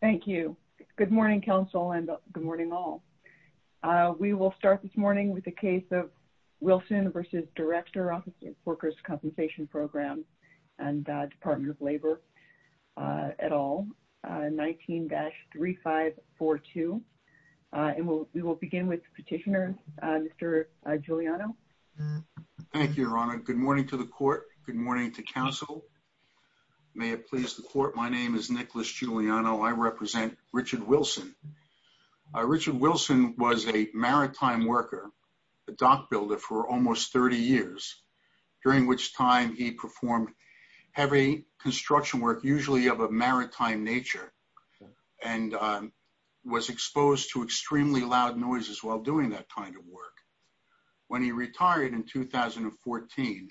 Thank you. Good morning, Council, and good morning all. We will start this morning with the case of Wilson v. Director Office Workers Compensation Program and Department of Labor et al., 19-3542. And we will begin with the petitioner, Mr. Giuliano. Thank you, Your Honor. Good morning to the Court. Good morning to Council. May it please the Court, my name is Nicholas Giuliano. I represent Richard Wilson. Richard Wilson was a maritime worker, a dock builder, for almost 30 years, during which time he performed heavy construction work, usually of a maritime nature, and was exposed to extremely loud noises while doing that kind of work. When he retired in 2014,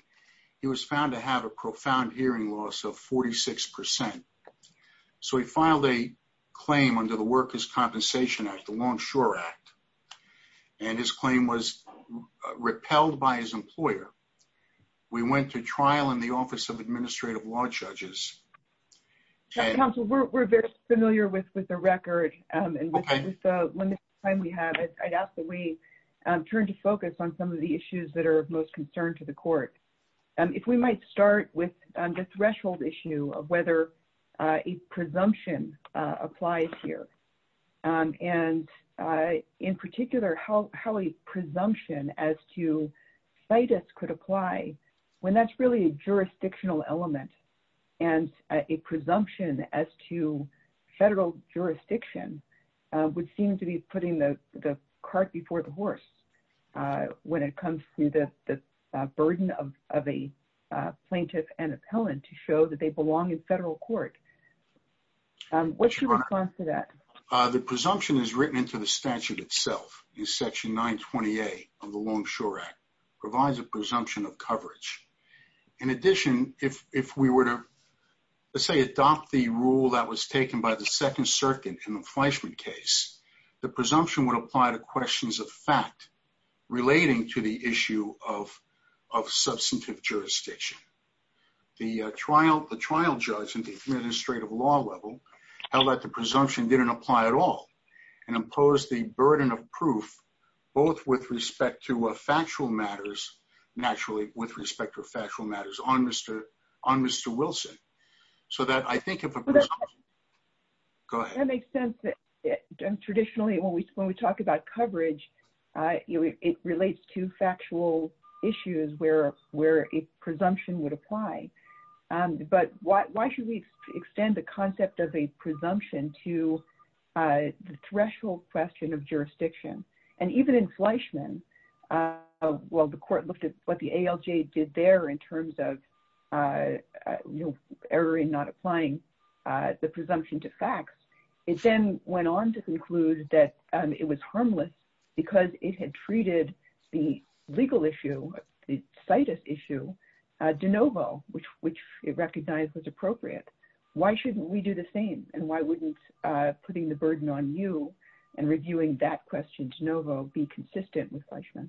he was found to have a profound hearing loss of 46 percent. So he filed a claim under the Workers' Compensation Act, the Longshore Act, and his claim was repelled by his employer. We went to trial in the Office of Administrative Law Judges. Council, we're very familiar with the record and with the limited time we have. I'd ask that we turn to focus on some of the issues that are of most concern to the Court. If we might start with the threshold issue of whether a presumption applies here. And in particular, how a presumption as to CITUS could apply when that's really a jurisdictional element, and a presumption as to federal jurisdiction would seem to be putting the cart before the horse when it comes to the burden of a plaintiff and appellant to show that they belong in federal court. What's your response to that? The presumption is written into the statute itself. Section 920A of the Longshore Act provides a presumption of coverage. In addition, if we were to, let's say, adopt the rule that was taken by the Second Circuit in the Fleischman case, the presumption would apply to questions of fact relating to the issue of substantive jurisdiction. The trial judge in the Administrative Law level held that the presumption didn't apply at all and imposed the burden of proof, both with respect to factual matters, naturally, with respect to factual matters on Mr. Wilson. That makes sense. Traditionally, when we talk about coverage, it relates to factual issues where a presumption would apply. But why should we extend the concept of a presumption to the threshold question of jurisdiction? Even in Fleischman, the court looked at what the ALJ did there in terms of error in not applying the presumption to facts. It then went on to conclude that it was harmless because it had treated the legal issue, the situs issue, de novo, which it knew, and reviewing that question, de novo, be consistent with Fleischman.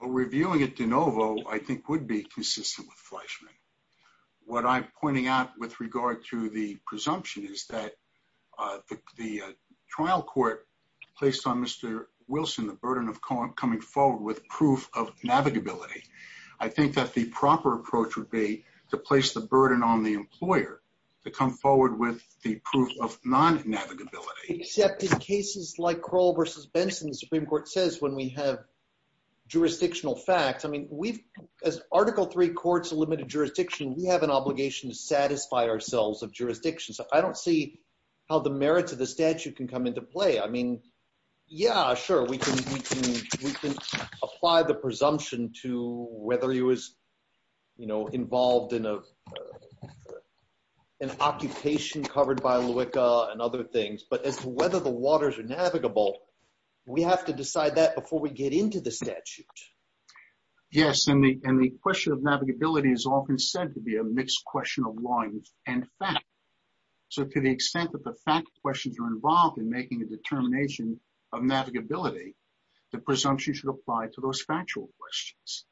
Reviewing it de novo, I think, would be consistent with Fleischman. What I'm pointing out with regard to the presumption is that the trial court placed on Mr. Wilson the burden of coming forward with proof of navigability. I think that the proper approach would be to place the burden on the employer to come forward with the proof of non-navigability. Except in cases like Crowell v. Benson, the Supreme Court says when we have jurisdictional facts, I mean, as Article III courts of limited jurisdiction, we have an obligation to satisfy ourselves of jurisdiction. So I don't see how the merits of the statute can come into play. I mean, yeah, sure, we can apply the presumption to whether he was, you know, involved in a an occupation covered by LUCA and other things, but as to whether the waters are navigable, we have to decide that before we get into the statute. Yes, and the question of navigability is often said to be a mixed question of law and fact. So to the extent that the fact questions are involved in making a determination of navigability, the presumption should apply to those factual questions.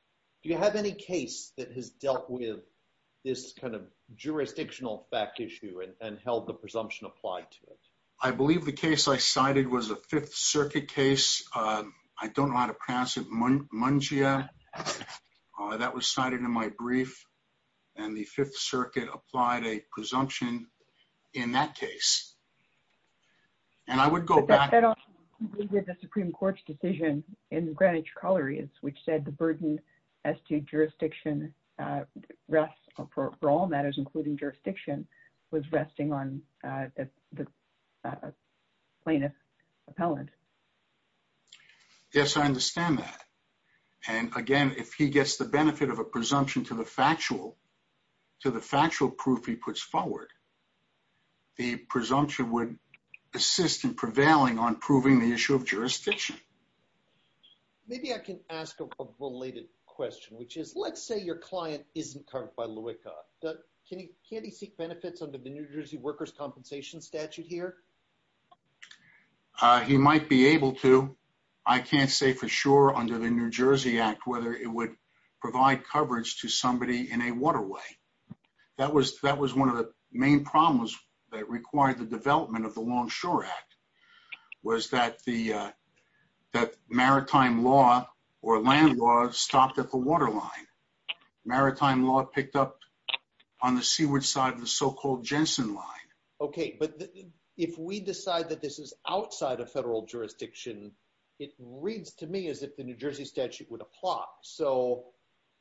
Do you have any case that has dealt with this kind of jurisdictional fact issue and held the presumption applied to it? I believe the case I cited was a Fifth Circuit case. I don't know how to pronounce it, Mungia. That was cited in my brief, and the Fifth Circuit applied a presumption in that case. And I would go back. But that also included the Supreme Court's decision in the Greenwich Colliery, which said the burden as to jurisdiction rest for all matters, including jurisdiction, was resting on the plaintiff's appellant. Yes, I understand that. And again, if he gets the to the factual proof he puts forward, the presumption would assist in prevailing on proving the issue of jurisdiction. Maybe I can ask a related question, which is let's say your client isn't covered by LUICA. Can he seek benefits under the New Jersey Workers' Compensation statute here? He might be able to. I can't say for sure under the New Jersey Act whether it would provide coverage to somebody in a waterway. That was one of the main problems that required the development of the Longshore Act was that maritime law or land law stopped at the waterline. Maritime law picked up on the seaward side of the so-called Jensen Line. Okay, but if we decide that this is outside of federal jurisdiction, it reads to me as if the New Jersey statute would apply. So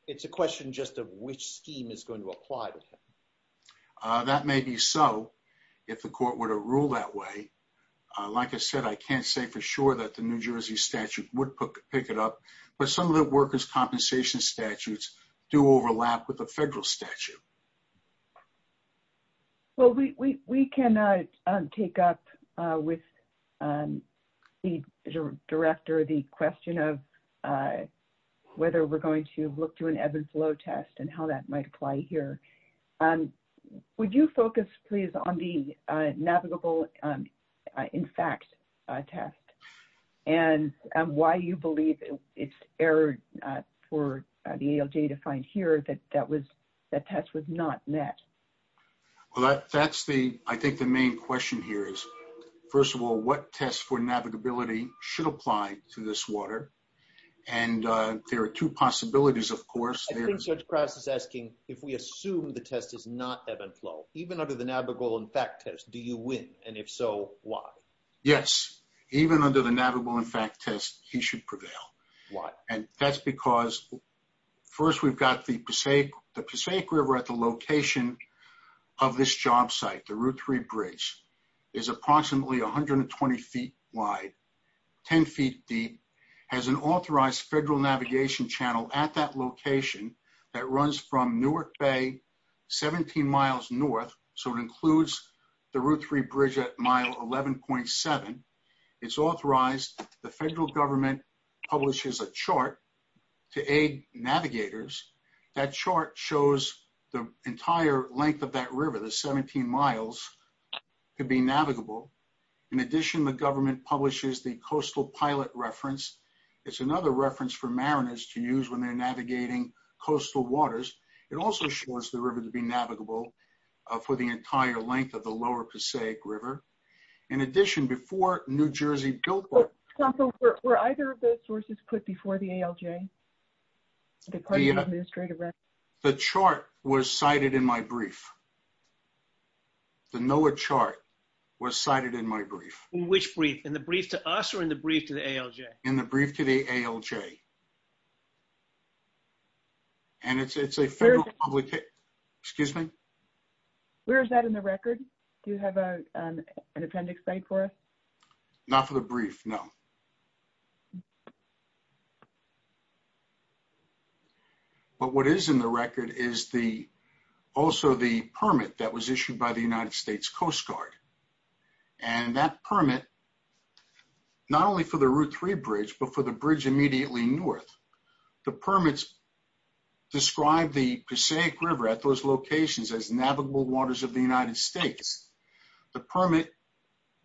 it's a question just of which scheme is going to apply to him. That may be so if the court were to rule that way. Like I said, I can't say for sure that the New Jersey statute would pick it up, but some of the workers' compensation statutes do overlap with the federal statute. Well, we can take up with the director the question of whether we're going to look to an ebb and flow test and how that might apply here. Would you focus, please, on the navigable in fact test and why you believe it's for the ALJ to find here that that test was not met? Well, I think the main question here is, first of all, what tests for navigability should apply to this water? And there are two possibilities, of course. I think Judge Krause is asking if we assume the test is not ebb and flow, even under the navigable in fact test, do you win? And if so, why? Yes, even under the navigable in fact test, because first we've got the Passaic River at the location of this job site, the Route 3 bridge, is approximately 120 feet wide, 10 feet deep, has an authorized federal navigation channel at that location that runs from Newark Bay, 17 miles north, so it includes the Route 3 bridge at mile 11.7. It's authorized. The federal government publishes a chart to aid navigators. That chart shows the entire length of that river, the 17 miles, could be navigable. In addition, the government publishes the coastal pilot reference. It's another reference for mariners to use when they're navigating coastal waters. It also shows the river to be navigable for the entire length of the lower Passaic River. In addition, before New Jersey built. Were either of those sources put before the ALJ? The chart was cited in my brief. The NOAA chart was cited in my brief. Which brief, in the brief to us or in the brief to the ALJ? In the brief to the ALJ. And it's a federal publication. Excuse me? Where is that in the record? Do you have a an appendix site for us? Not for the brief, no. But what is in the record is the also the permit that was issued by the United States Coast Guard. And that permit, not only for the Route 3 bridge, but for the bridge immediately near north. The permits describe the Passaic River at those locations as navigable waters of the United States. The permit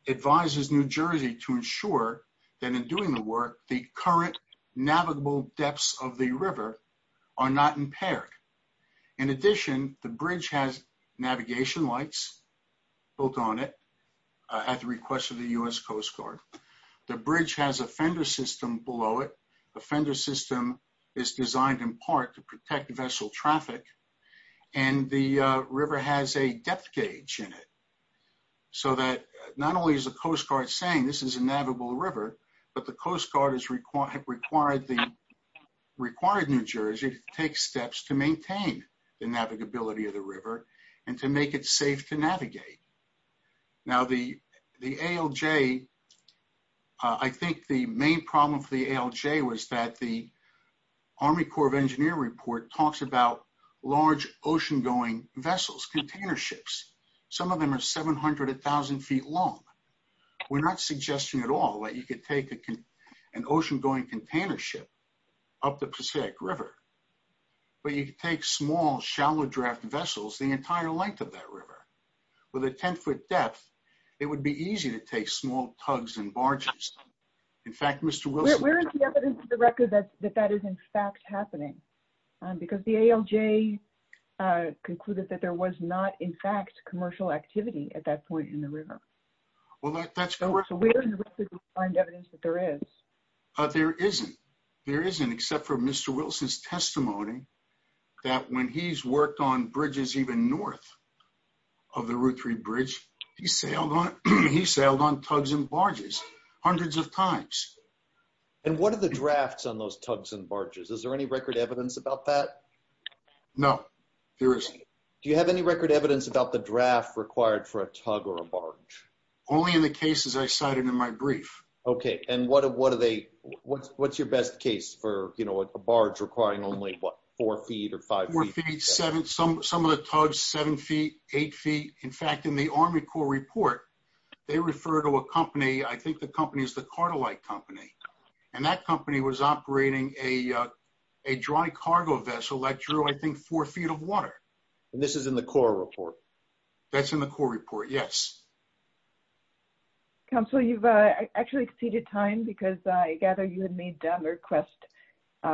advises New Jersey to ensure that in doing the work, the current navigable depths of the river are not impaired. In addition, the bridge has navigation lights built on it at the request of the U.S. Coast Guard. The bridge has a fender system below it. The fender system is designed in part to protect vessel traffic. And the river has a depth gauge in it. So that not only is the Coast Guard saying this is a navigable river, but the Coast Guard has required New Jersey to take steps to maintain the navigability of the river and to make it safe to navigate. Now the ALJ, I think the main problem for the ALJ was that the Army Corps of Engineers report talks about large ocean-going vessels, container ships. Some of them are 700 to 1,000 feet long. We're not suggesting at all that you could take an ocean-going container ship up the Passaic River, but you could take small shallow draft vessels the entire length of that river. With a 10-foot depth, it would be easy to take small tugs and barges. In fact, Mr. Wilson... Where is the evidence of the record that that is in fact happening? Because the ALJ concluded that there was not in fact commercial activity at that point in the river. Well, that's... So where in the record do we find evidence that there is? There isn't. There isn't except for Mr. Wilson's testimony that when he's worked on bridges even north of the Route 3 bridge, he sailed on tugs and barges hundreds of times. And what are the drafts on those tugs and barges? Is there any record evidence about that? No, there isn't. Do you have any record evidence about the draft required for a tug or a barge? Only in the cases I cited in my brief. Okay. And what's your best case for a barge requiring only, what, four feet or five feet? Four feet, seven. Some of the tugs, seven feet, eight feet. In fact, in the Army Corps report, they refer to a company. I think the company is the Cartolite Company. And that company was operating a dry cargo vessel that drew, I think, four feet of water. And this is in the Corps report? That's in the Corps report, yes. Counselor, you've actually exceeded time because I gather you had made a request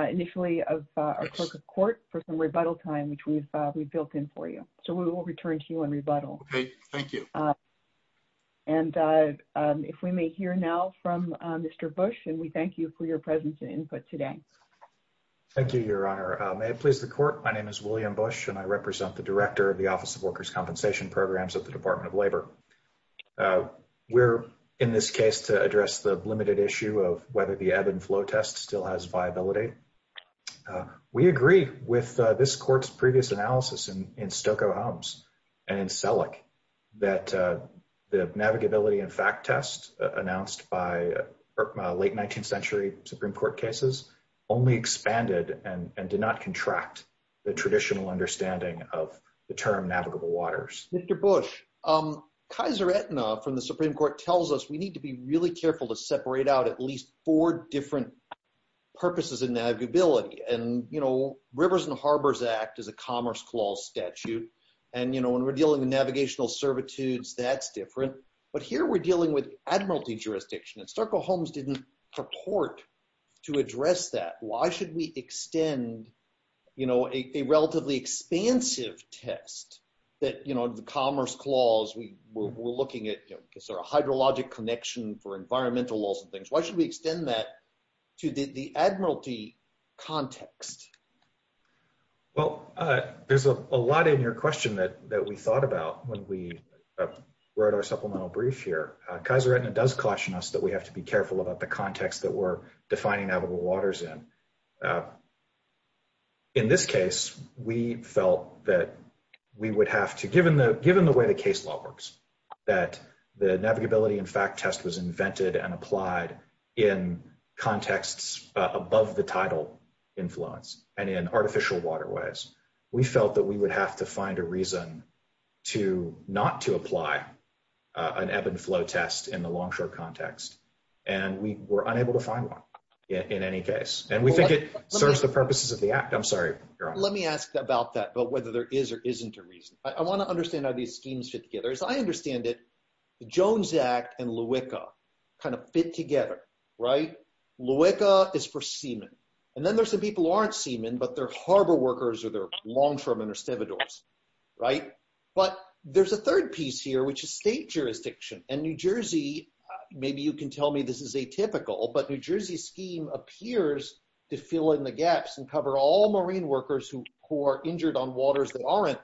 initially of our clerk of court for some rebuttal time, which we've built in for you. So we will return to you on rebuttal. Okay. Thank you. And if we may hear now from Mr. Bush, and we thank you for your presence and input today. Thank you, Your Honor. May it please the programs of the Department of Labor. We're in this case to address the limited issue of whether the ebb and flow test still has viability. We agree with this court's previous analysis in Stokoe Homes and in Selleck that the navigability and fact test announced by late 19th century Supreme Court cases only expanded and did not contract the traditional understanding of the rivers. Mr. Bush, Kaiser Aetna from the Supreme Court tells us we need to be really careful to separate out at least four different purposes in navigability. And, you know, Rivers and Harbors Act is a commerce clause statute. And, you know, when we're dealing with navigational servitudes, that's different. But here we're dealing with admiralty jurisdiction and Stokoe Homes didn't purport to address that. Why should we extend, you know, a relatively expansive test that, you know, the commerce clause, we're looking at sort of hydrologic connection for environmental laws and things. Why should we extend that to the admiralty context? Well, there's a lot in your question that we thought about when we wrote our supplemental brief here. Kaiser Aetna does caution us that we have to be careful about the context that we're defining navigable waters in. In this case, we felt that we would have to, given the way the case law works, that the navigability and fact test was invented and applied in contexts above the title influence and in artificial waterways, we felt that we would have to find a reason to not to apply an ebb and flow test in the longshore context. And we were unable to find one in any case. And we think it serves the purposes of the act. I'm sorry, your honor. Let me ask about that, but whether there is or isn't a reason. I want to understand how these schemes fit together. As I understand it, the Jones Act and LAWICA kind of fit together, right? LAWICA is for seamen. And then there's some people who aren't seamen, but they're harbor workers or they're longshoremen or stevedores, right? But there's a third piece here, which is state jurisdiction. And New Jersey, maybe you can tell me this is atypical, but New Jersey's scheme appears to fill in the gaps and cover all marine workers who are injured on waters that aren't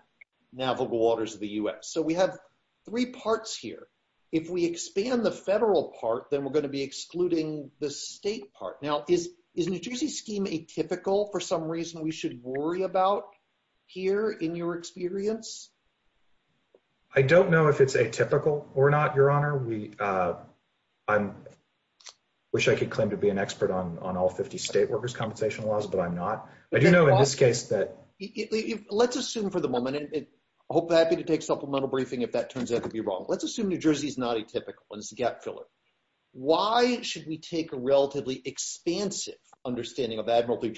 navigable waters of the U.S. So we have three parts here. If we expand the federal part, then we're going to be excluding the state part. Now, is New Jersey's scheme atypical for some reason that we should worry about here in your experience? I don't know if it's atypical or not, your honor. I wish I could claim to be an expert on all 50 state workers' compensation laws, but I'm not. I do know in this case that... Let's assume for the moment, and I'd be happy to take supplemental briefing if that turns out to be wrong. Let's assume New Jersey's not atypical and it's a gap filler. Why should we take a relatively expansive understanding of admiralty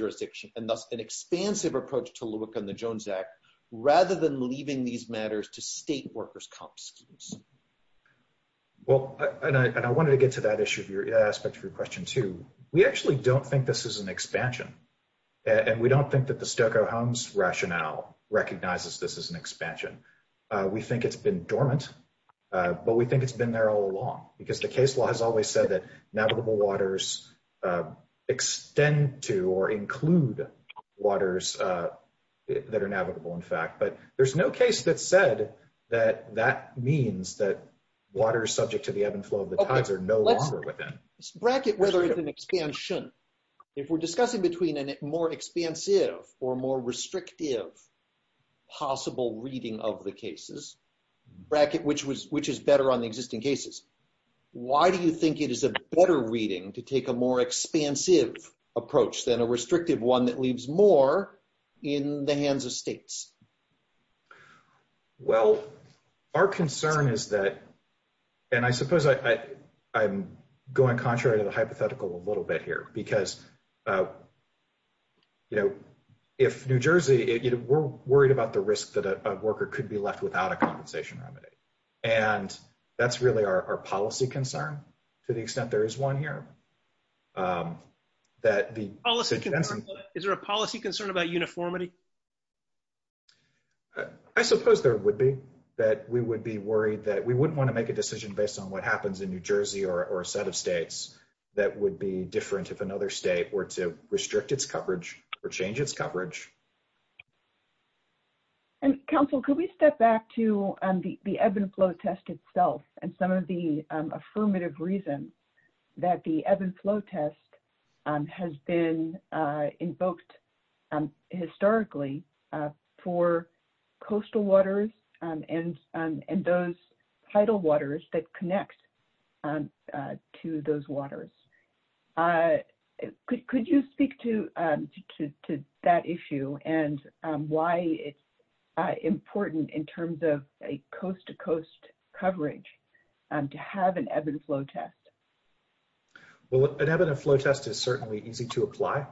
and thus an expansive approach to look on the Jones Act, rather than leaving these matters to state workers' comp schemes? Well, and I wanted to get to that issue of your aspect of your question too. We actually don't think this is an expansion, and we don't think that the Stokoe-Holmes rationale recognizes this as an expansion. We think it's been dormant, but we think it's been there all along because the waters that are navigable, in fact. But there's no case that said that that means that water is subject to the ebb and flow of the tides or no longer within. Let's bracket whether it's an expansion. If we're discussing between a more expansive or more restrictive possible reading of the cases, bracket which is better on the existing cases, why do you think it is a better reading to take a more expansive approach than a restrictive one that leaves more in the hands of states? Well, our concern is that, and I suppose I'm going contrary to the hypothetical a little bit here, because if New Jersey, we're worried about the risk that a worker could be left without a compensation remedy. And that's really our policy concern to the extent there is one here. Is there a policy concern about uniformity? I suppose there would be, that we would be worried that we wouldn't want to make a decision based on what happens in New Jersey or a set of states that would be different if another state were to restrict its coverage or change its coverage. And counsel, could we step back to the ebb and flow test that has been invoked historically for coastal waters and those tidal waters that connect to those waters? Could you speak to that issue and why it's important in terms of coast-to-coast coverage to have an ebb and flow test? Well, an ebb and flow test is certainly easy to apply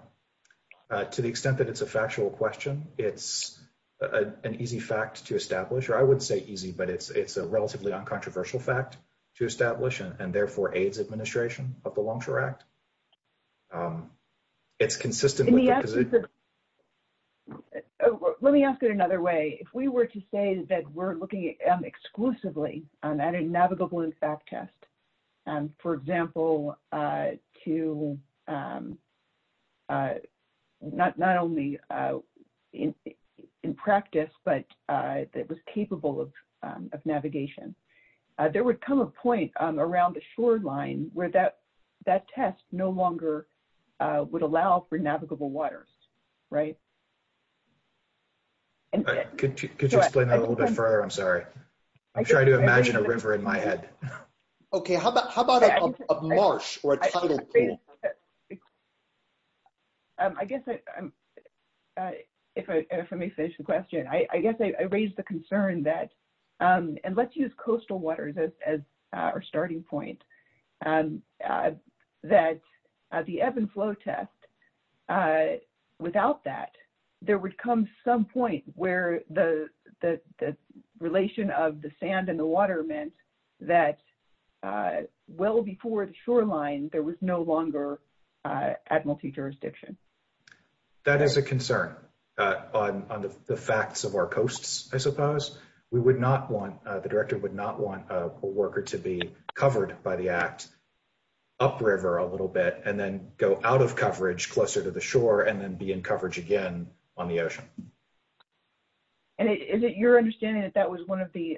to the extent that it's a factual question. It's an easy fact to establish, or I wouldn't say easy, but it's a relatively uncontroversial fact to establish and therefore aids administration of the Longshore Act. It's consistent with the exclusively on that in navigable and fact test. For example, to not only in practice, but it was capable of navigation. There would come a point around the shoreline where that test no longer would allow for navigable waters, right? Could you explain that a little bit further? I'm sorry. I'm trying to imagine a river in my head. Okay. How about a marsh or a tidal pool? I guess if I may finish the question, I guess I raised the concern that, and let's use coastal waters as our starting point, that the ebb and flow test, without that, there would come some point where the relation of the sand and the water meant that well before the shoreline, there was no longer at multi-jurisdiction. That is a concern on the facts of our coasts, I suppose. The director would not want a worker to be covered by the act upriver a little bit and then go out of coverage closer to the shore and then be in coverage again on the ocean. Is it your understanding that that was one of the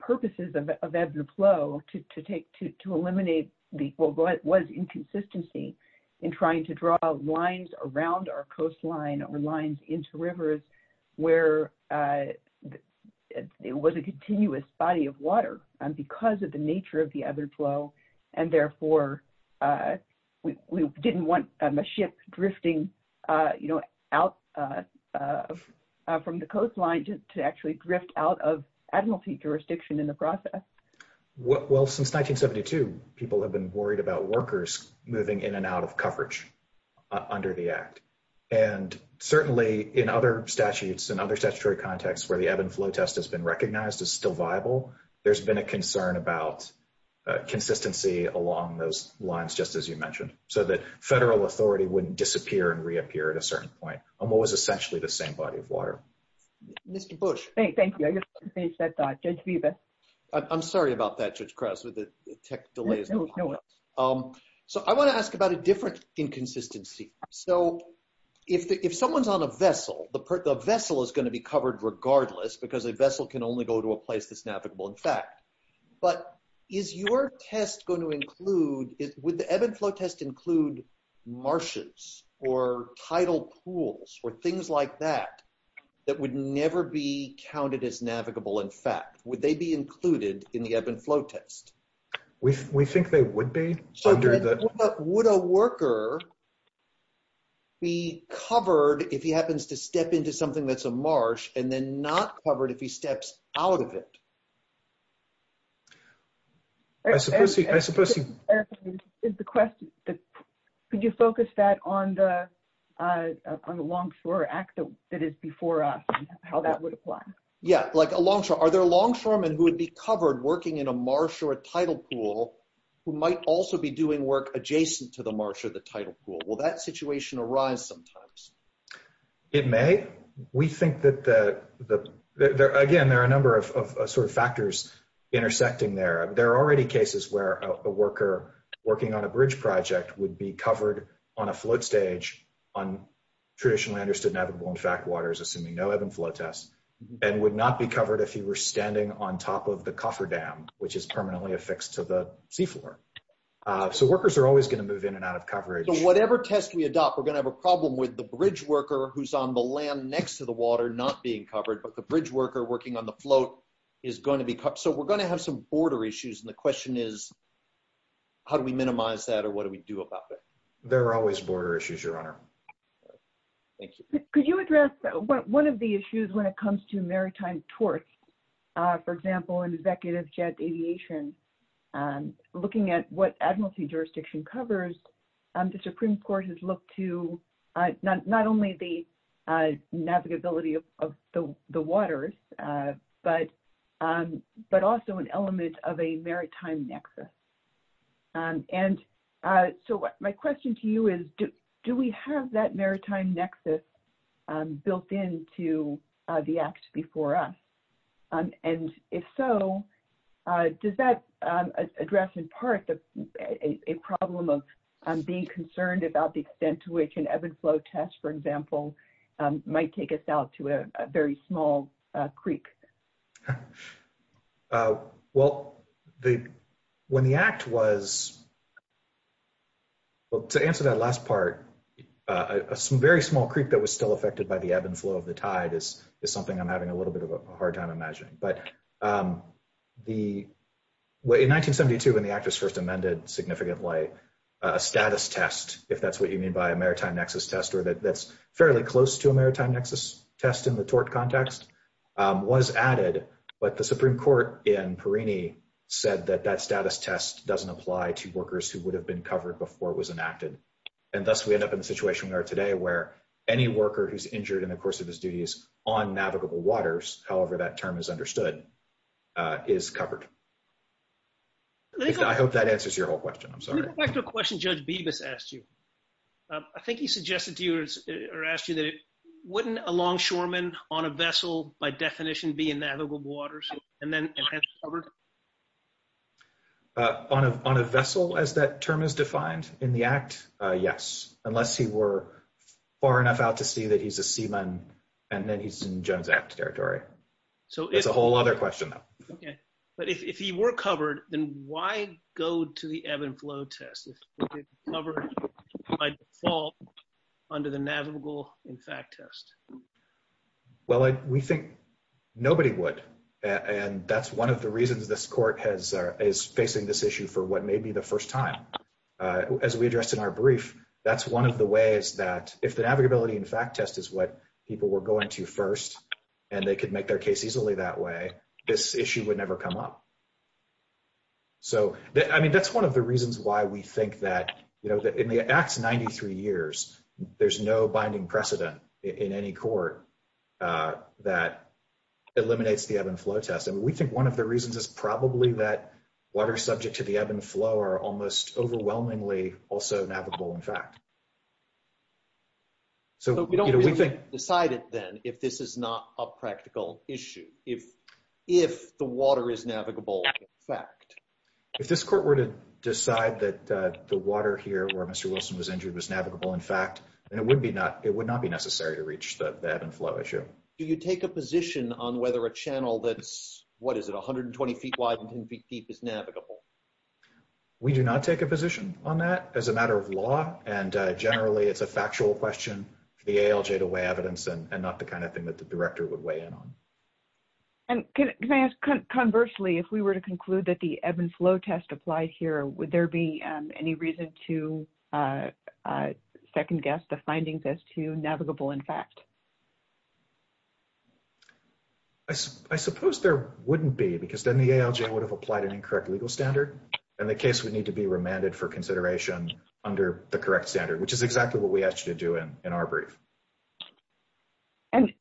purposes of ebb and flow to eliminate what was inconsistency in trying to draw lines around our nature of the ebb and flow and therefore we didn't want a ship drifting out from the coastline to actually drift out of admiralty jurisdiction in the process? Well, since 1972, people have been worried about workers moving in and out of coverage under the act. And certainly in other statutes and other statutory contexts where the ebb and flow test has been recognized as still consistency along those lines, just as you mentioned, so that federal authority wouldn't disappear and reappear at a certain point on what was essentially the same body of water. Mr. Bush. Thank you. I just finished that thought. Judge Viva. I'm sorry about that, Judge Krause, with the tech delays. So I want to ask about a different inconsistency. So if someone's on a vessel, the vessel is going to be covered regardless because a vessel can only go to a place that's navigable in fact. But is your test going to include, would the ebb and flow test include marshes or tidal pools or things like that that would never be counted as navigable in fact? Would they be included in the ebb and flow test? We think they would be. But would a worker be covered if he happens to step into something that's a marsh and then not covered if he steps out of it? Could you focus that on the on the longshore act that is before us and how that would apply? Yeah, like a longshore. Are there longshoremen who would be covered working in a marsh or a tidal pool who might also be doing work adjacent to the marsh or the tidal pool? Will that situation arise sometimes? It may. We think that, again, there are a number of sort of factors intersecting there. There are already cases where a worker working on a bridge project would be covered on a float stage on traditionally understood navigable in fact waters, assuming no ebb and flow tests, and would not be covered if he were standing on top of the cofferdam, which is permanently affixed to the seafloor. So workers are always going to move in and out of coverage. Whatever test we adopt, we're going to have a problem with the bridge worker who's on the land next to the water not being covered. But the bridge worker working on the float is going to be covered. So we're going to have some border issues. And the question is, how do we minimize that? Or what do we do about that? There are always border issues, Your Honor. Thank you. Could you address one of the issues when it comes to maritime torts? For example, in executive jet aviation, looking at what admiralty jurisdiction covers, the Supreme Court has looked to not only the navigability of the waters, but also an element of a maritime nexus. And so my question to you is, do we have that maritime nexus built into the act before us? And if so, does that address in part a problem of being concerned about the extent to which an ebb and flow test, for example, might take us out to a very small creek? Well, when the act was, well, to answer that last part, a very small creek that was still tied is something I'm having a little bit of a hard time imagining. But in 1972, when the act was first amended significantly, a status test, if that's what you mean by a maritime nexus test, or that's fairly close to a maritime nexus test in the tort context, was added. But the Supreme Court in Perrini said that that status test doesn't apply to workers who would have been covered before it was enacted. And thus, we end up in the situation we are today where any worker who's injured in the course of his duties on navigable waters, however that term is understood, is covered. I hope that answers your whole question. I'm sorry. Let me go back to a question Judge Bibas asked you. I think he suggested to you or asked you that wouldn't a longshoreman on a vessel, by definition, be in navigable waters and then yes, unless he were far enough out to see that he's a seaman, and then he's in Jones Act territory. So it's a whole other question, though. Okay. But if he were covered, then why go to the ebb and flow test if it's covered by default under the navigable in fact test? Well, we think nobody would. And that's one of the reasons this court is facing this issue for what may be the first time. As we addressed in our brief, that's one of the ways that if the navigability in fact test is what people were going to first, and they could make their case easily that way, this issue would never come up. So, I mean, that's one of the reasons why we think that, you know, in the Act's 93 years, there's no binding precedent in any court that eliminates the ebb and flow test. And we think one of the reasons is probably that water subject to the ebb and flow are almost overwhelmingly also navigable in fact. So we don't really decide it then if this is not a practical issue, if the water is navigable in fact. If this court were to decide that the water here where Mr. Wilson was injured was navigable in fact, then it would not be necessary to reach the ebb and flow issue. Do you take a position on whether a channel that's, what is it, 120 feet wide and 10 feet deep is navigable? We do not take a position on that as a matter of law. And generally, it's a factual question for the ALJ to weigh evidence and not the kind of thing that the director would weigh in on. And can I ask, conversely, if we were to conclude that the ebb and flow test applied here, would there be any reason to second guess the findings as to navigable in fact? I suppose there wouldn't be because then the ALJ would have applied an incorrect legal standard and the case would need to be remanded for consideration under the correct standard, which is exactly what we asked you to do in our brief. And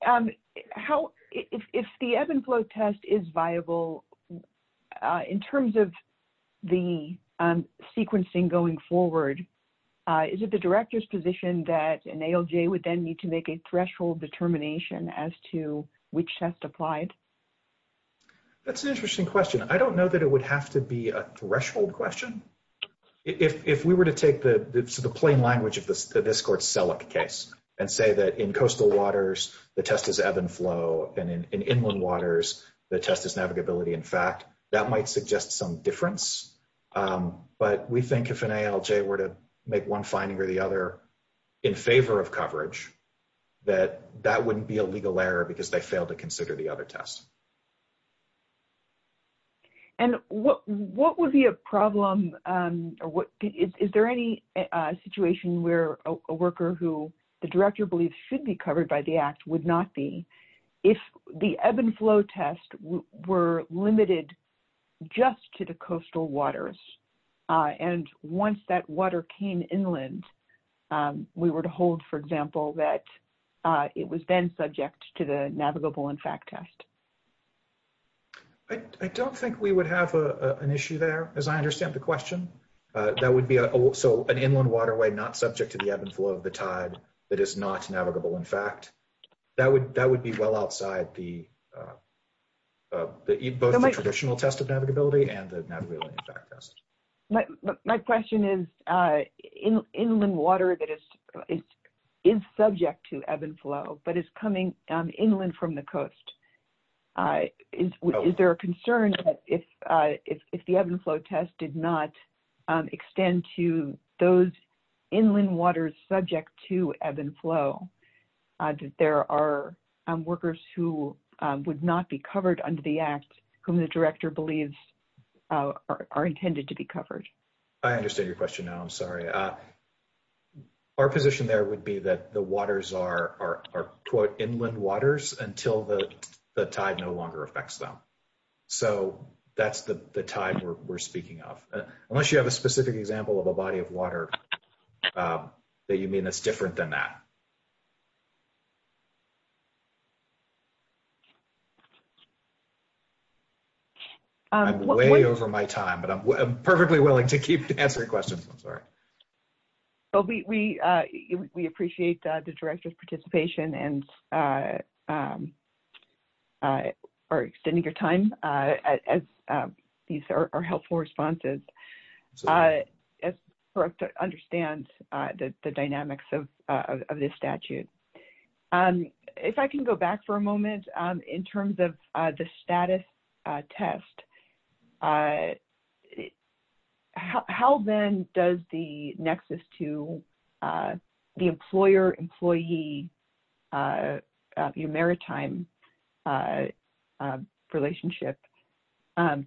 how, if the ebb and flow test is viable in terms of the sequencing going forward, is it the director's position that an ALJ would then need to make a threshold determination as to which test applied? That's an interesting question. I don't know that it would have to be a threshold question. If we were to take the plain language of this court's SELAC case and say that in coastal waters, the test is ebb and flow, and in inland waters, the test is navigability in fact, that might suggest some difference. But we think if an ALJ were to make one finding or the other in favor of coverage, that that wouldn't be a legal error because they failed to consider the other tests. And what would be a problem, is there any situation where a worker who the director believes should be covered by the act would not be if the ebb and flow test were limited just to the coastal waters? And once that water came inland, we were to hold, for example, that it was then subject to the navigable in fact test. I don't think we would have an issue there, as I understand the question. That would be also an inland waterway not subject to the ebb and flow of the tide that is not navigable in fact. That would be well outside both the traditional test of navigability and the navigability in fact test. My question is inland water that is subject to ebb and flow but is coming inland from the coast. Is there a concern if the ebb and flow test did not extend to those inland waters subject to ebb and flow, that there are workers who would not be covered under the act whom the director believes are intended to be covered? I understand your question now. I'm sorry. Our position there would be that the waters are inland waters until the tide no longer affects them. So that's the tide we're speaking of. Unless you have a specific example of a body of water that you mean that's different than that. I'm way over my time but I'm perfectly willing to keep answering questions. I'm sorry. We appreciate the director's participation and extending your time. These are helpful responses to understand the dynamics of this statute. If I can go back for a moment in terms of the status test, how then does the nexus to the employer-employee maritime relationship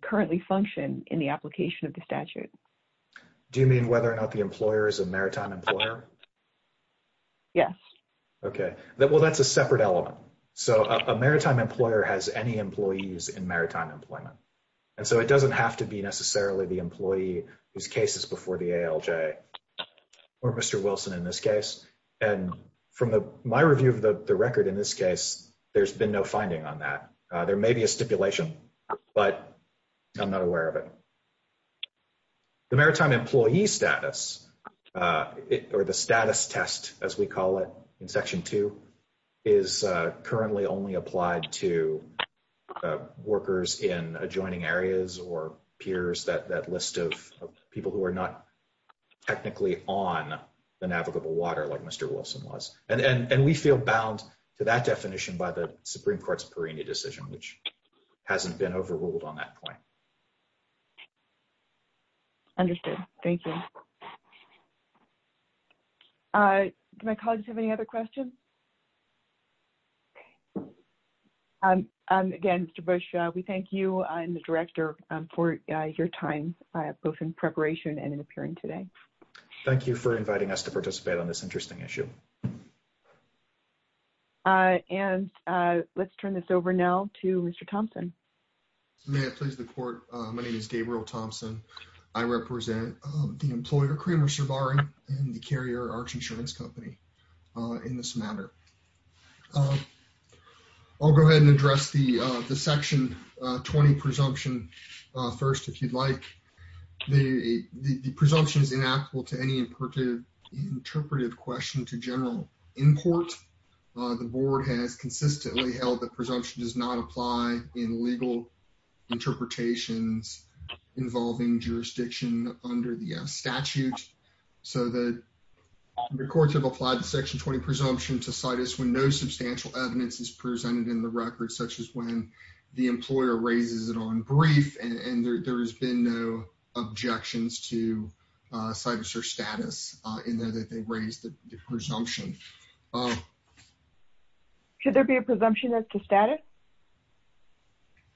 currently function in the application of the statute? Do you mean whether or not the employer is a maritime employer? Yes. Okay. Well, that's a separate element. So a maritime employer has any employees in maritime employment. And so it doesn't have to be necessarily the employee whose case is before the ALJ or Mr. Wilson in this case. And from my review of the record in this case, there's been no finding on that. There may be a stipulation, but I'm not aware of it. The maritime employee status or the status test, as we call it in Section 2, is currently only applied to workers in adjoining areas or peers, that list of people who are not technically on the navigable water like Mr. Wilson was. And we feel bound to that definition by the Supreme Court's Perennia decision, which hasn't been overruled on that point. Understood. Thank you. Do my colleagues have any other questions? Again, Mr. Bush, we thank you and the Director for your time, both in preparation and in appearing today. Thank you for inviting us to participate on this interesting issue. And let's turn this over now to Mr. Thompson. May I please report? My name is Gabriel Thompson. I represent the employer Kramer Surbaran and the Carrier Arch Insurance Company in this matter. I'll go ahead and address the Section 20 presumption first, if you'd like. The presumption is inapplicable to any interpreted question to general import. The board has consistently held that presumption does not apply in legal interpretations involving jurisdiction under the statute. So the courts have applied the Section 20 presumption to situs when no substantial evidence is presented in the record, such as when the employer raises it on brief and there has been no objections to situs or status in that they raised the presumption. Should there be a presumption as to status?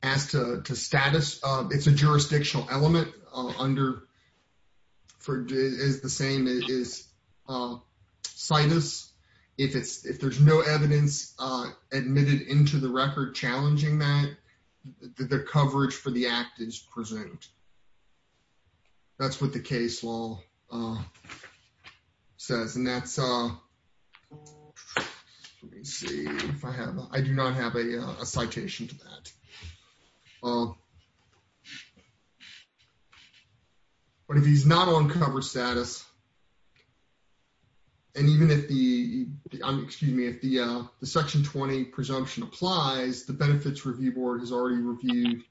As to status, it's a jurisdictional element under, is the same as situs. If it's, if there's no evidence admitted into the record challenging that, the coverage for the act is present. That's what the case law says. And that's, let me see if I have, I do not have a citation to that. But if he's not on cover status, and even if the, excuse me, if the Section 20 presumption applies, the Benefits Review Board has already reviewed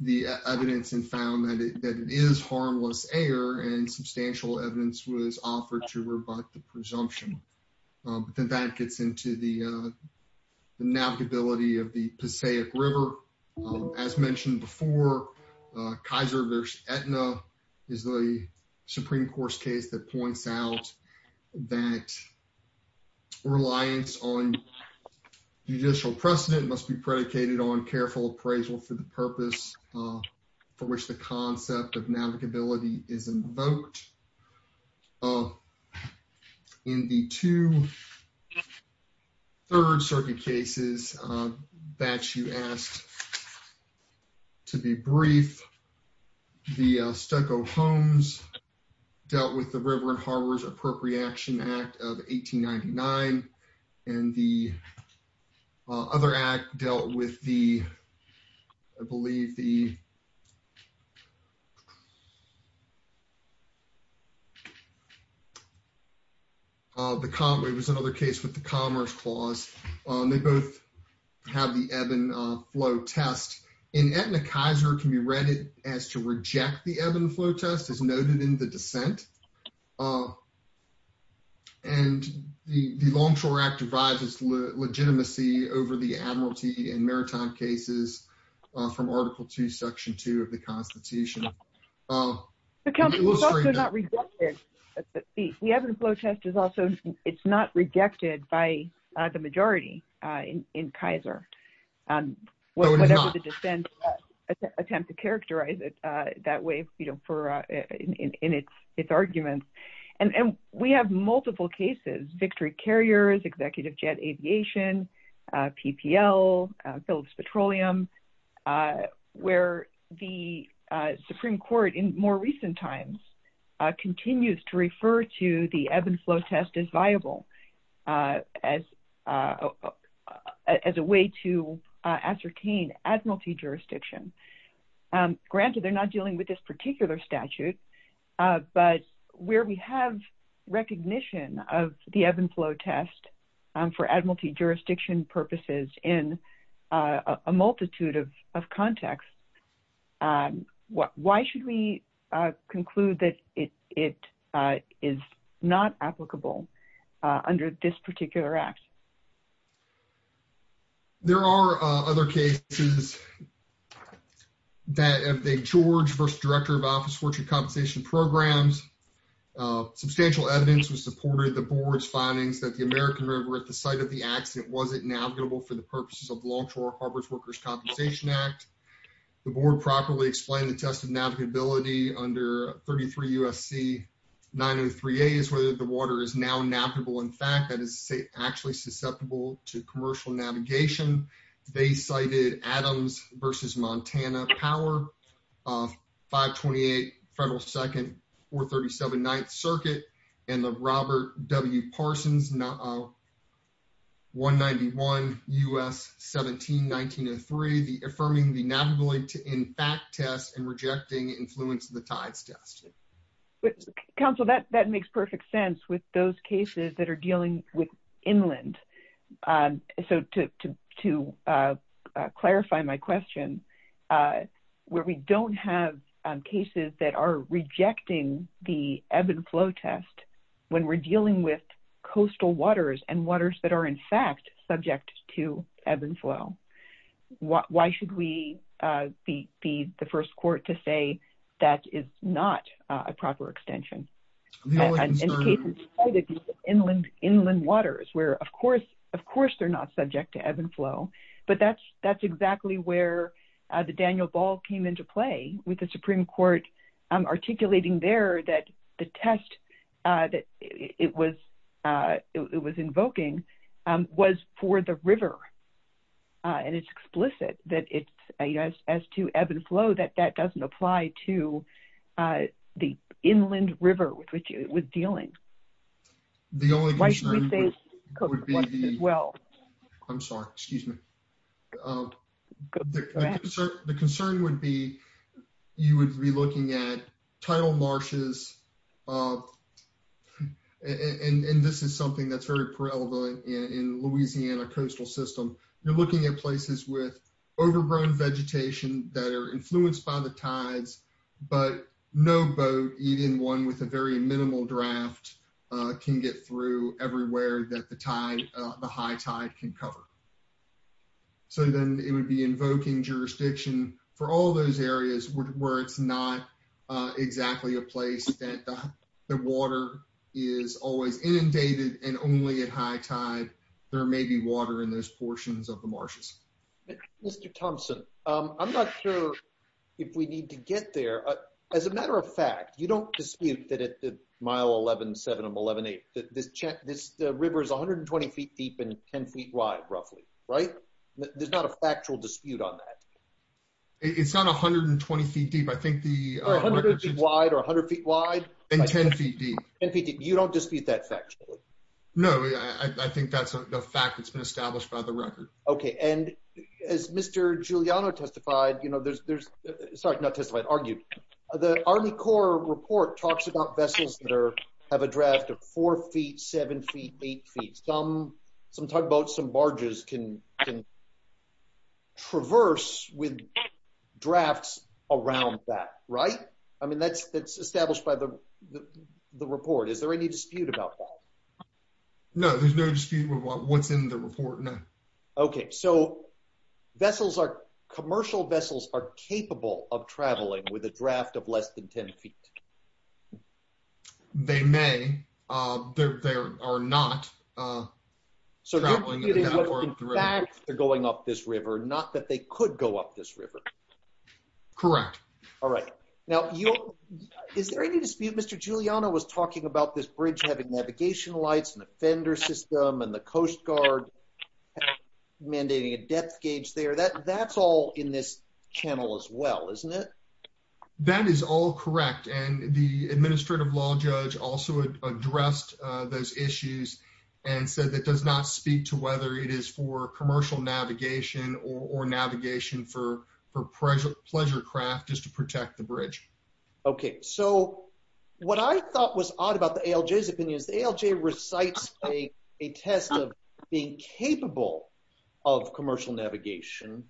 the evidence and found that it is harmless error and substantial evidence was offered to rebut the presumption. But then that gets into the navigability of the Passaic River. As mentioned before, Kaiser v. Aetna is the careful appraisal for the purpose for which the concept of navigability is invoked. In the two Third Circuit cases that you asked to be brief, the Stucco Homes dealt with the River and Harbors Appropriation Act of 1899. And the other act dealt with the, I believe the, the, it was another case with the Commerce Clause. They both have the ebb and flow test. In Aetna, Kaiser can be read as to reject the ebb and flow test as noted in the dissent. And the Longshore Act revives its legitimacy over the Admiralty and Maritime cases from Article 2, Section 2 of the Constitution. The ebb and flow test is also, it's not rejected by the majority in Kaiser. And whatever the dissent attempt to characterize it that way, you know, for in its arguments. And we have multiple cases, Victory Carriers, Executive Jet Aviation, PPL, Phillips Petroleum, where the Supreme Court in more recent times continues to refer to the ebb and flow test as a, as a way to ascertain Admiralty jurisdiction. Granted, they're not dealing with this particular statute, but where we have recognition of the ebb and flow test for Admiralty jurisdiction purposes in a multitude of contexts, why should we conclude that it is not applicable under this particular Act? There are other cases that have the George v. Director of Office of Fortune Compensation Programs. Substantial evidence was supported. The board's findings that the American River at the site of the accident wasn't navigable for the purposes of Longshore Harbors Workers Compensation Act. The board properly explained the test of navigability under 33 U.S.C. 903a is whether the water is now navigable. In fact, that is actually susceptible to commercial navigation. They cited Adams v. Montana Power, 528 Federal 2nd, 437 9th Circuit, and the Robert W. Parsons, 191 U.S. 17 1903, affirming the navigability in fact test and rejecting influence of the tides test. Counsel, that makes perfect sense with those cases that are dealing with inland. So to clarify my question, where we don't have cases that are rejecting the ebb and flow test when we're dealing with coastal waters and waters that are in fact subject to ebb and flow, why should we be the first court to say that is not a proper extension? In the case of inland waters where of course they're not subject to ebb and flow, but that's exactly where the Daniel Ball came into play with the Supreme Court articulating there that the test that it was invoking was for the river. And it's explicit that as to ebb and flow, that doesn't apply to the inland river with which it was dealing. The concern would be you would be looking at tidal marshes, and this is something that's very prevalent in Louisiana coastal system. You're looking at places with overgrown vegetation that are influenced by the tides, but no boat, even one with a very minimal draft, can get through everywhere that the high tide can cover. So then it would be invoking jurisdiction for all those areas where it's not exactly a place that the water is always inundated and only at high tide, there may be water in those portions of the marshes. Mr. Thompson, I'm not sure if we need to get there. As a matter of fact, you don't dispute that at the mile 11-7 and 11-8, this river is 120 feet deep and 10 feet wide, roughly, right? There's not a factual dispute on that. It's not 120 feet deep. I think the 100 feet wide and 10 feet deep. You don't dispute that factually? No, I think that's a fact that's established by the record. Okay, and as Mr. Giuliano testified, you know, there's, sorry, not testified, argued, the Army Corps report talks about vessels that have a draft of four feet, seven feet, eight feet. Some tugboats, some barges can traverse with drafts around that, right? I mean, that's established by the report. Is there any dispute about that? No, there's no dispute what's in the report, no. Okay, so vessels are, commercial vessels are capable of traveling with a draft of less than 10 feet. They may. They are not. So they're going up this river, not that they could go up this river. Correct. All right. Now, is there any dispute? Mr. Giuliano was talking about this bridge having navigation lights and the fender system and the Coast Guard mandating a depth gauge there. That's all in this channel as well, isn't it? That is all correct, and the Administrative Law Judge also addressed those issues and said that does not speak to whether it is for commercial navigation or navigation for pleasure craft just to protect bridge. Okay, so what I thought was odd about the ALJ's opinion is the ALJ recites a test of being capable of commercial navigation,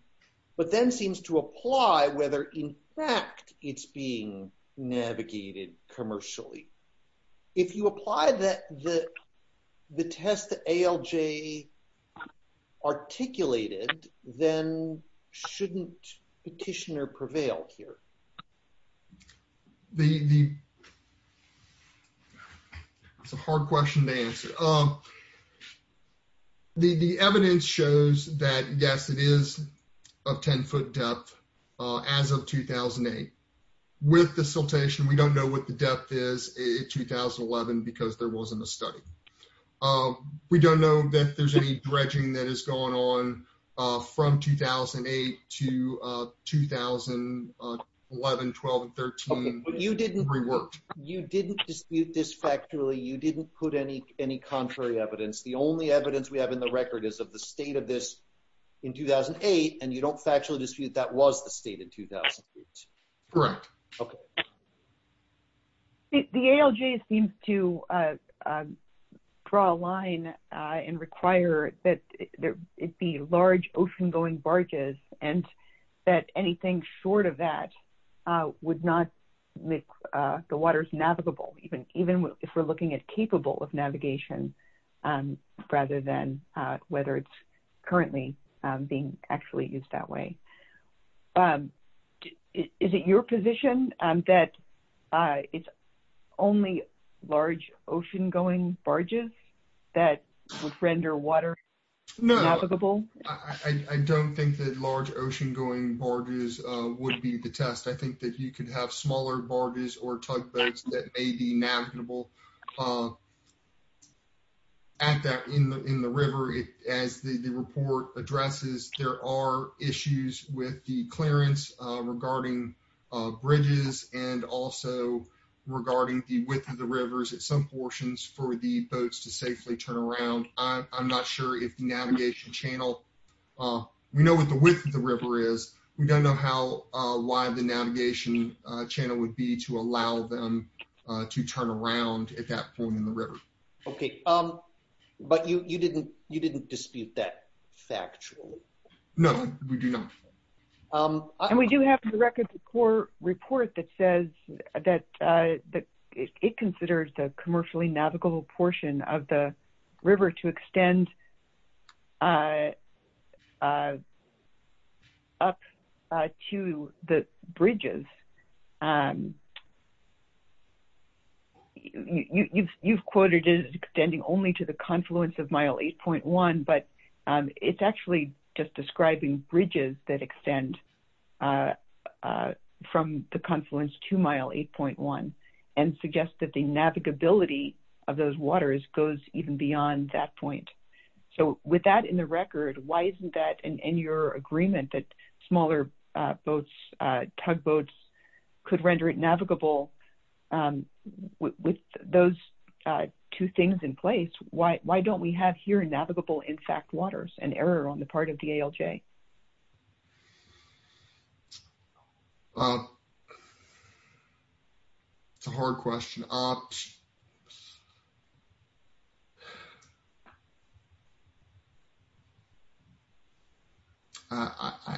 but then seems to apply whether in fact it's being navigated commercially. If you apply the test that ALJ articulated, then shouldn't petitioner prevail here? It's a hard question to answer. The evidence shows that yes, it is of 10-foot depth as of 2008. With the siltation, we don't know what the depth is in 2011 because there wasn't a study. We don't know that there's any dredging that has gone on from 2008 to 2011, 12, and 13. You didn't dispute this factually. You didn't put any contrary evidence. The only evidence we have in the record is of the state of this in 2008, and you don't factually dispute that was the draw a line and require that it be large ocean-going barges and that anything short of that would not make the waters navigable, even if we're looking at capable of navigation rather than whether it's currently being actually used that way. Is it your position that it's only large ocean-going barges that would render water navigable? No, I don't think that large ocean-going barges would be the test. I think that you could have smaller barges or tugboats that may be navigable at that in the river. As the report addresses, there are issues with the regarding the width of the rivers at some portions for the boats to safely turn around. I'm not sure if the navigation channel, we know what the width of the river is. We don't know how wide the navigation channel would be to allow them to turn around at that point in the river. Okay, but you didn't dispute that factually. No, we do not. And we do have in the record the core report that says that it considers the commercially navigable portion of the river to extend up to the bridges. You've quoted it as extending only to the confluence of mile 8.1, but it's actually just describing bridges that extend from the confluence to mile 8.1 and suggests that the navigability of those waters goes even beyond that point. So, with that in the record, why isn't that in your agreement that smaller boats, tugboats could render it navigable with those two things in place? Why don't we have here navigable in fact waters, an error on the part of the ALJ? Well, it's a hard question. I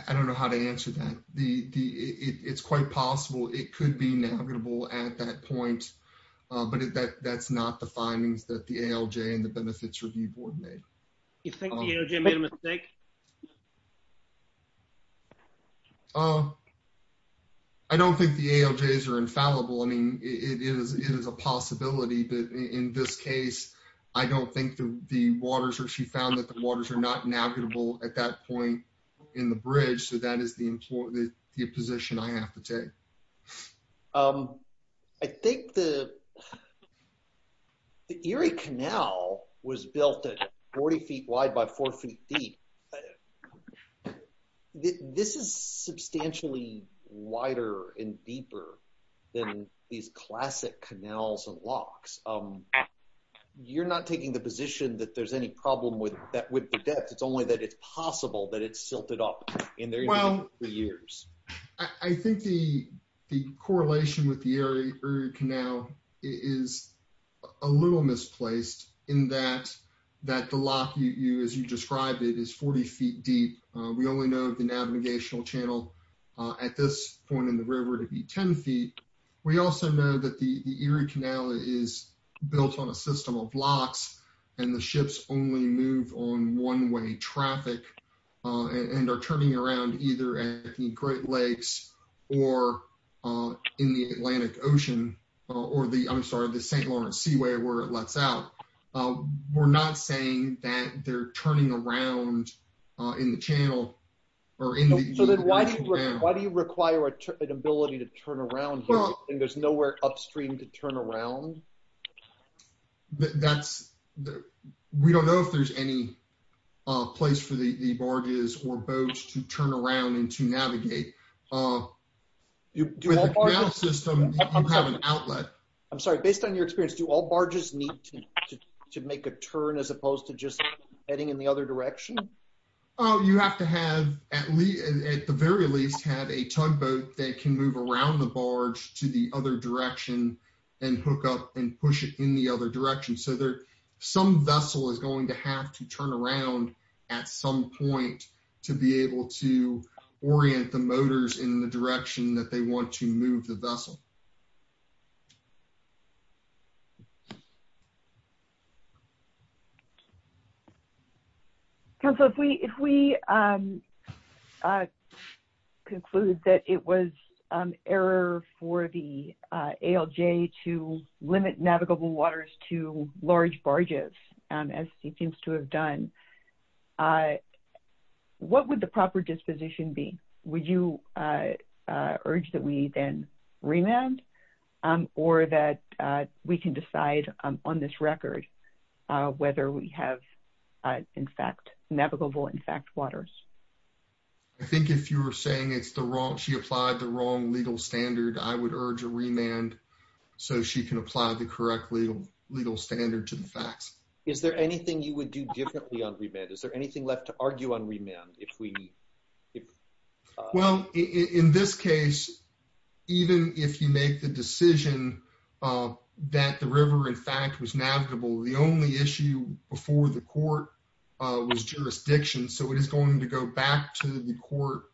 don't know how to answer that. It's quite possible it could be navigable at that point, but that's not the findings that the ALJ and the Benefits Review Board made. You think the ALJ made a mistake? I don't think the ALJs are infallible. I mean, it is a possibility, but in this case, I don't think the waters, or she found that the waters are not navigable at that point in the bridge, so that is the position I have to take. I think the Erie Canal was built at 40 feet wide by four feet deep. This is substantially wider and deeper than these classic canals and locks. You're not taking the position that there's any problem with that with the depth, it's only that it's possible that it's silted up in there for years. I think the correlation with the Erie Canal is a little misplaced in that the lock, as you described it, is 40 feet deep. We only know the navigational channel at this point in the river to be 10 feet. We also know that the Erie Canal is built on a system of locks and the ships only move on one-way traffic and are turning around either at the Great Lakes or in the Atlantic Ocean, or the, I'm sorry, the St. Lawrence Seaway, where it lets out. We're not saying that they're turning around in the channel. So then why do you require an ability to turn around here when there's nowhere upstream to turn around? We don't know if there's any place for the barges or boats to turn around and to navigate. With a canal system, you have an outlet. I'm sorry, based on your experience, do all barges need to make a turn as opposed to just heading in the other direction? Oh, you have to have, at the very least, have a tugboat that can move around the barge to the other direction and hook up and push it in the other direction. So some vessel is going to have to turn around at some point to be able to orient the motors in the direction that they want to move the vessel. Council, if we conclude that it was an error for the ALJ to limit navigable waters to large barges, as it seems to have done, what would the proper disposition be? Would you urge that we then remand or that we can decide on this record whether we have in fact navigable in fact waters? I think if you were saying it's the wrong, she applied the wrong legal standard, I would urge a remand so she can apply the correct legal standard to the facts. Is there anything you would do differently on remand? Is there anything left to argue on remand? Well, in this case, even if you make the decision that the river in fact was navigable, the only issue before the court was jurisdiction. So it is going to go back to the court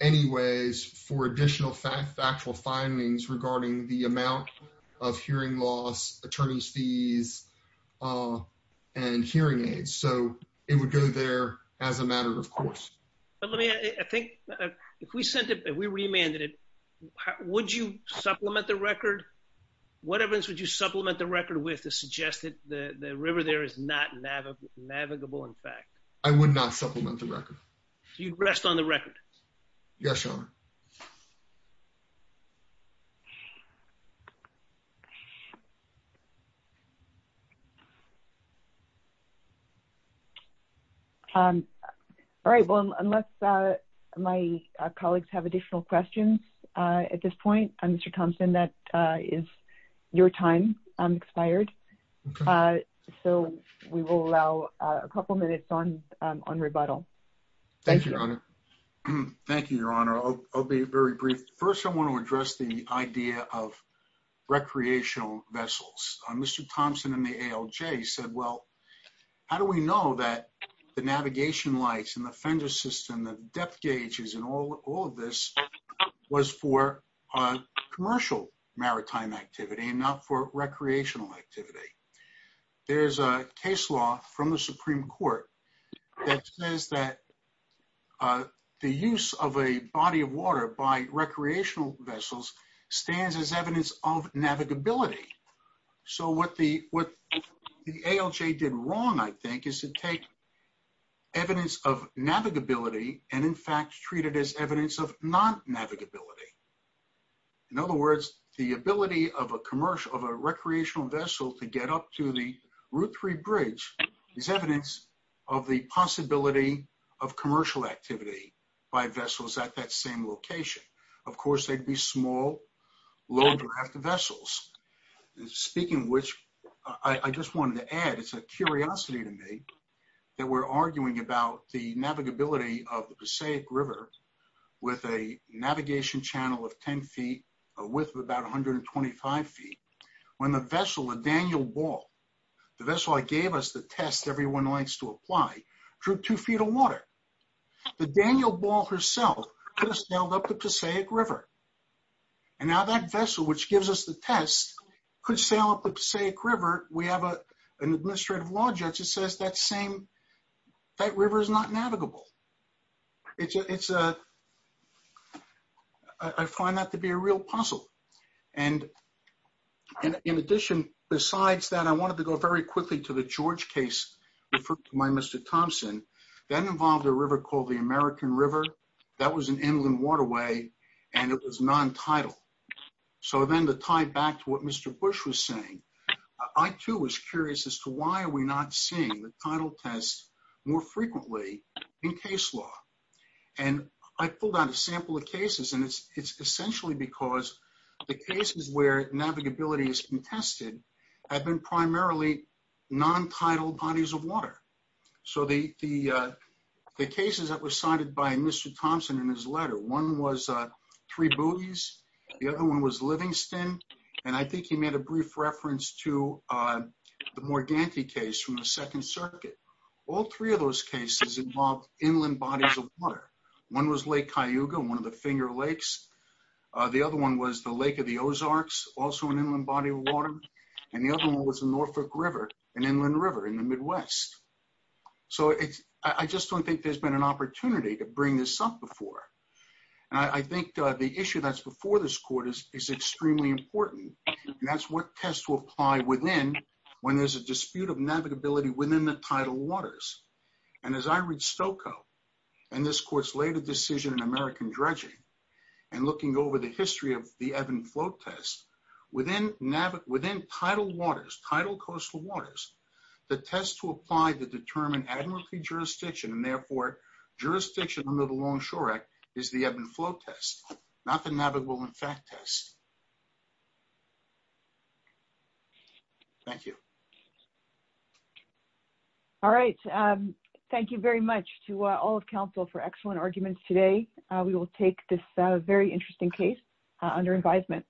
anyways for additional factual findings regarding the amount of hearing loss, attorney's fees, and hearing aids. So it would go there as a matter of course. But let me, I think if we sent it, if we remanded it, would you supplement the record? What evidence would you supplement the record with to suggest that the river there is not navigable in fact? I would not supplement the record. You'd rest on the record? Yes, Your Honor. All right. Well, unless my colleagues have additional questions at this point, Mr. Thompson, that is your time expired. So we will allow a couple minutes on rebuttal. Thank you, Your Honor. Thank you, Your Honor. I'll be very brief. First, I want to address the idea of recreational vessels. Mr. Thompson in the ALJ said, well, how do we know that the navigation lights and the fender system, the depth gauges and all of this was for commercial maritime activity and not for recreational activity? There's a case law from the Supreme Court that says that the use of a body of water by recreational vessels stands as evidence of navigability. So what the ALJ did wrong, I think, is to take evidence of navigability and in fact, treat it as evidence of non-navigability. In other words, the ability of a commercial, of a recreational vessel to get up to the Route 3 bridge is evidence of the possibility of commercial activity by vessels at that same location. Of course, they'd be small, low draft vessels. Speaking of which, I just wanted to add, it's a curiosity to me that we're arguing about the navigability of the Passaic River with a navigation channel of 10 feet a width of about 125 feet. When the vessel, the Daniel Ball, the vessel that gave us the test everyone likes to apply, drew two feet of water. The Daniel Ball herself could have sailed up the Passaic River. Now that vessel, which gives us the test, could sail up the Passaic River. We have an administrative law judge that says that river is not navigable. I find that to be a real puzzle. In addition, besides that, I wanted to go very quickly to the George case referred to by Mr. Thompson. That involved a river called the American River. That was an inland waterway and it was non-tidal. So then to tie back to what Mr. Bush was saying, I too was curious as to why are we not seeing the tidal tests more frequently in case law. I pulled out a sample of cases and it's essentially because the cases where navigability has been tested have been primarily non-tidal bodies of water. So the cases that were cited by Mr. Thompson in his letter, one was Three Boogies, the other one was Livingston, and I think he made a brief reference to the Morganti case from the Second Circuit. All three of those cases involved inland bodies of water. One was Lake Cayuga, one of the Finger Lakes. The other one was the Lake of the Ozarks, also an inland body of water. And the other one was the Norfolk River, an inland river in the Midwest. So I just don't think there's been an opportunity to bring this up before. And I think the issue that's before this court is extremely important and that's what tests will apply within when there's a dispute of navigability within the tidal waters. And as I read Stokoe and this court's later decision in American Dredging and looking over the history of ebb and flow test, within tidal waters, tidal coastal waters, the test to apply to determine administrative jurisdiction and therefore jurisdiction under the Longshore Act is the ebb and flow test, not the navigable in fact test. Thank you. All right. Thank you very much to all for excellent arguments today. We will take this very interesting case under advisement.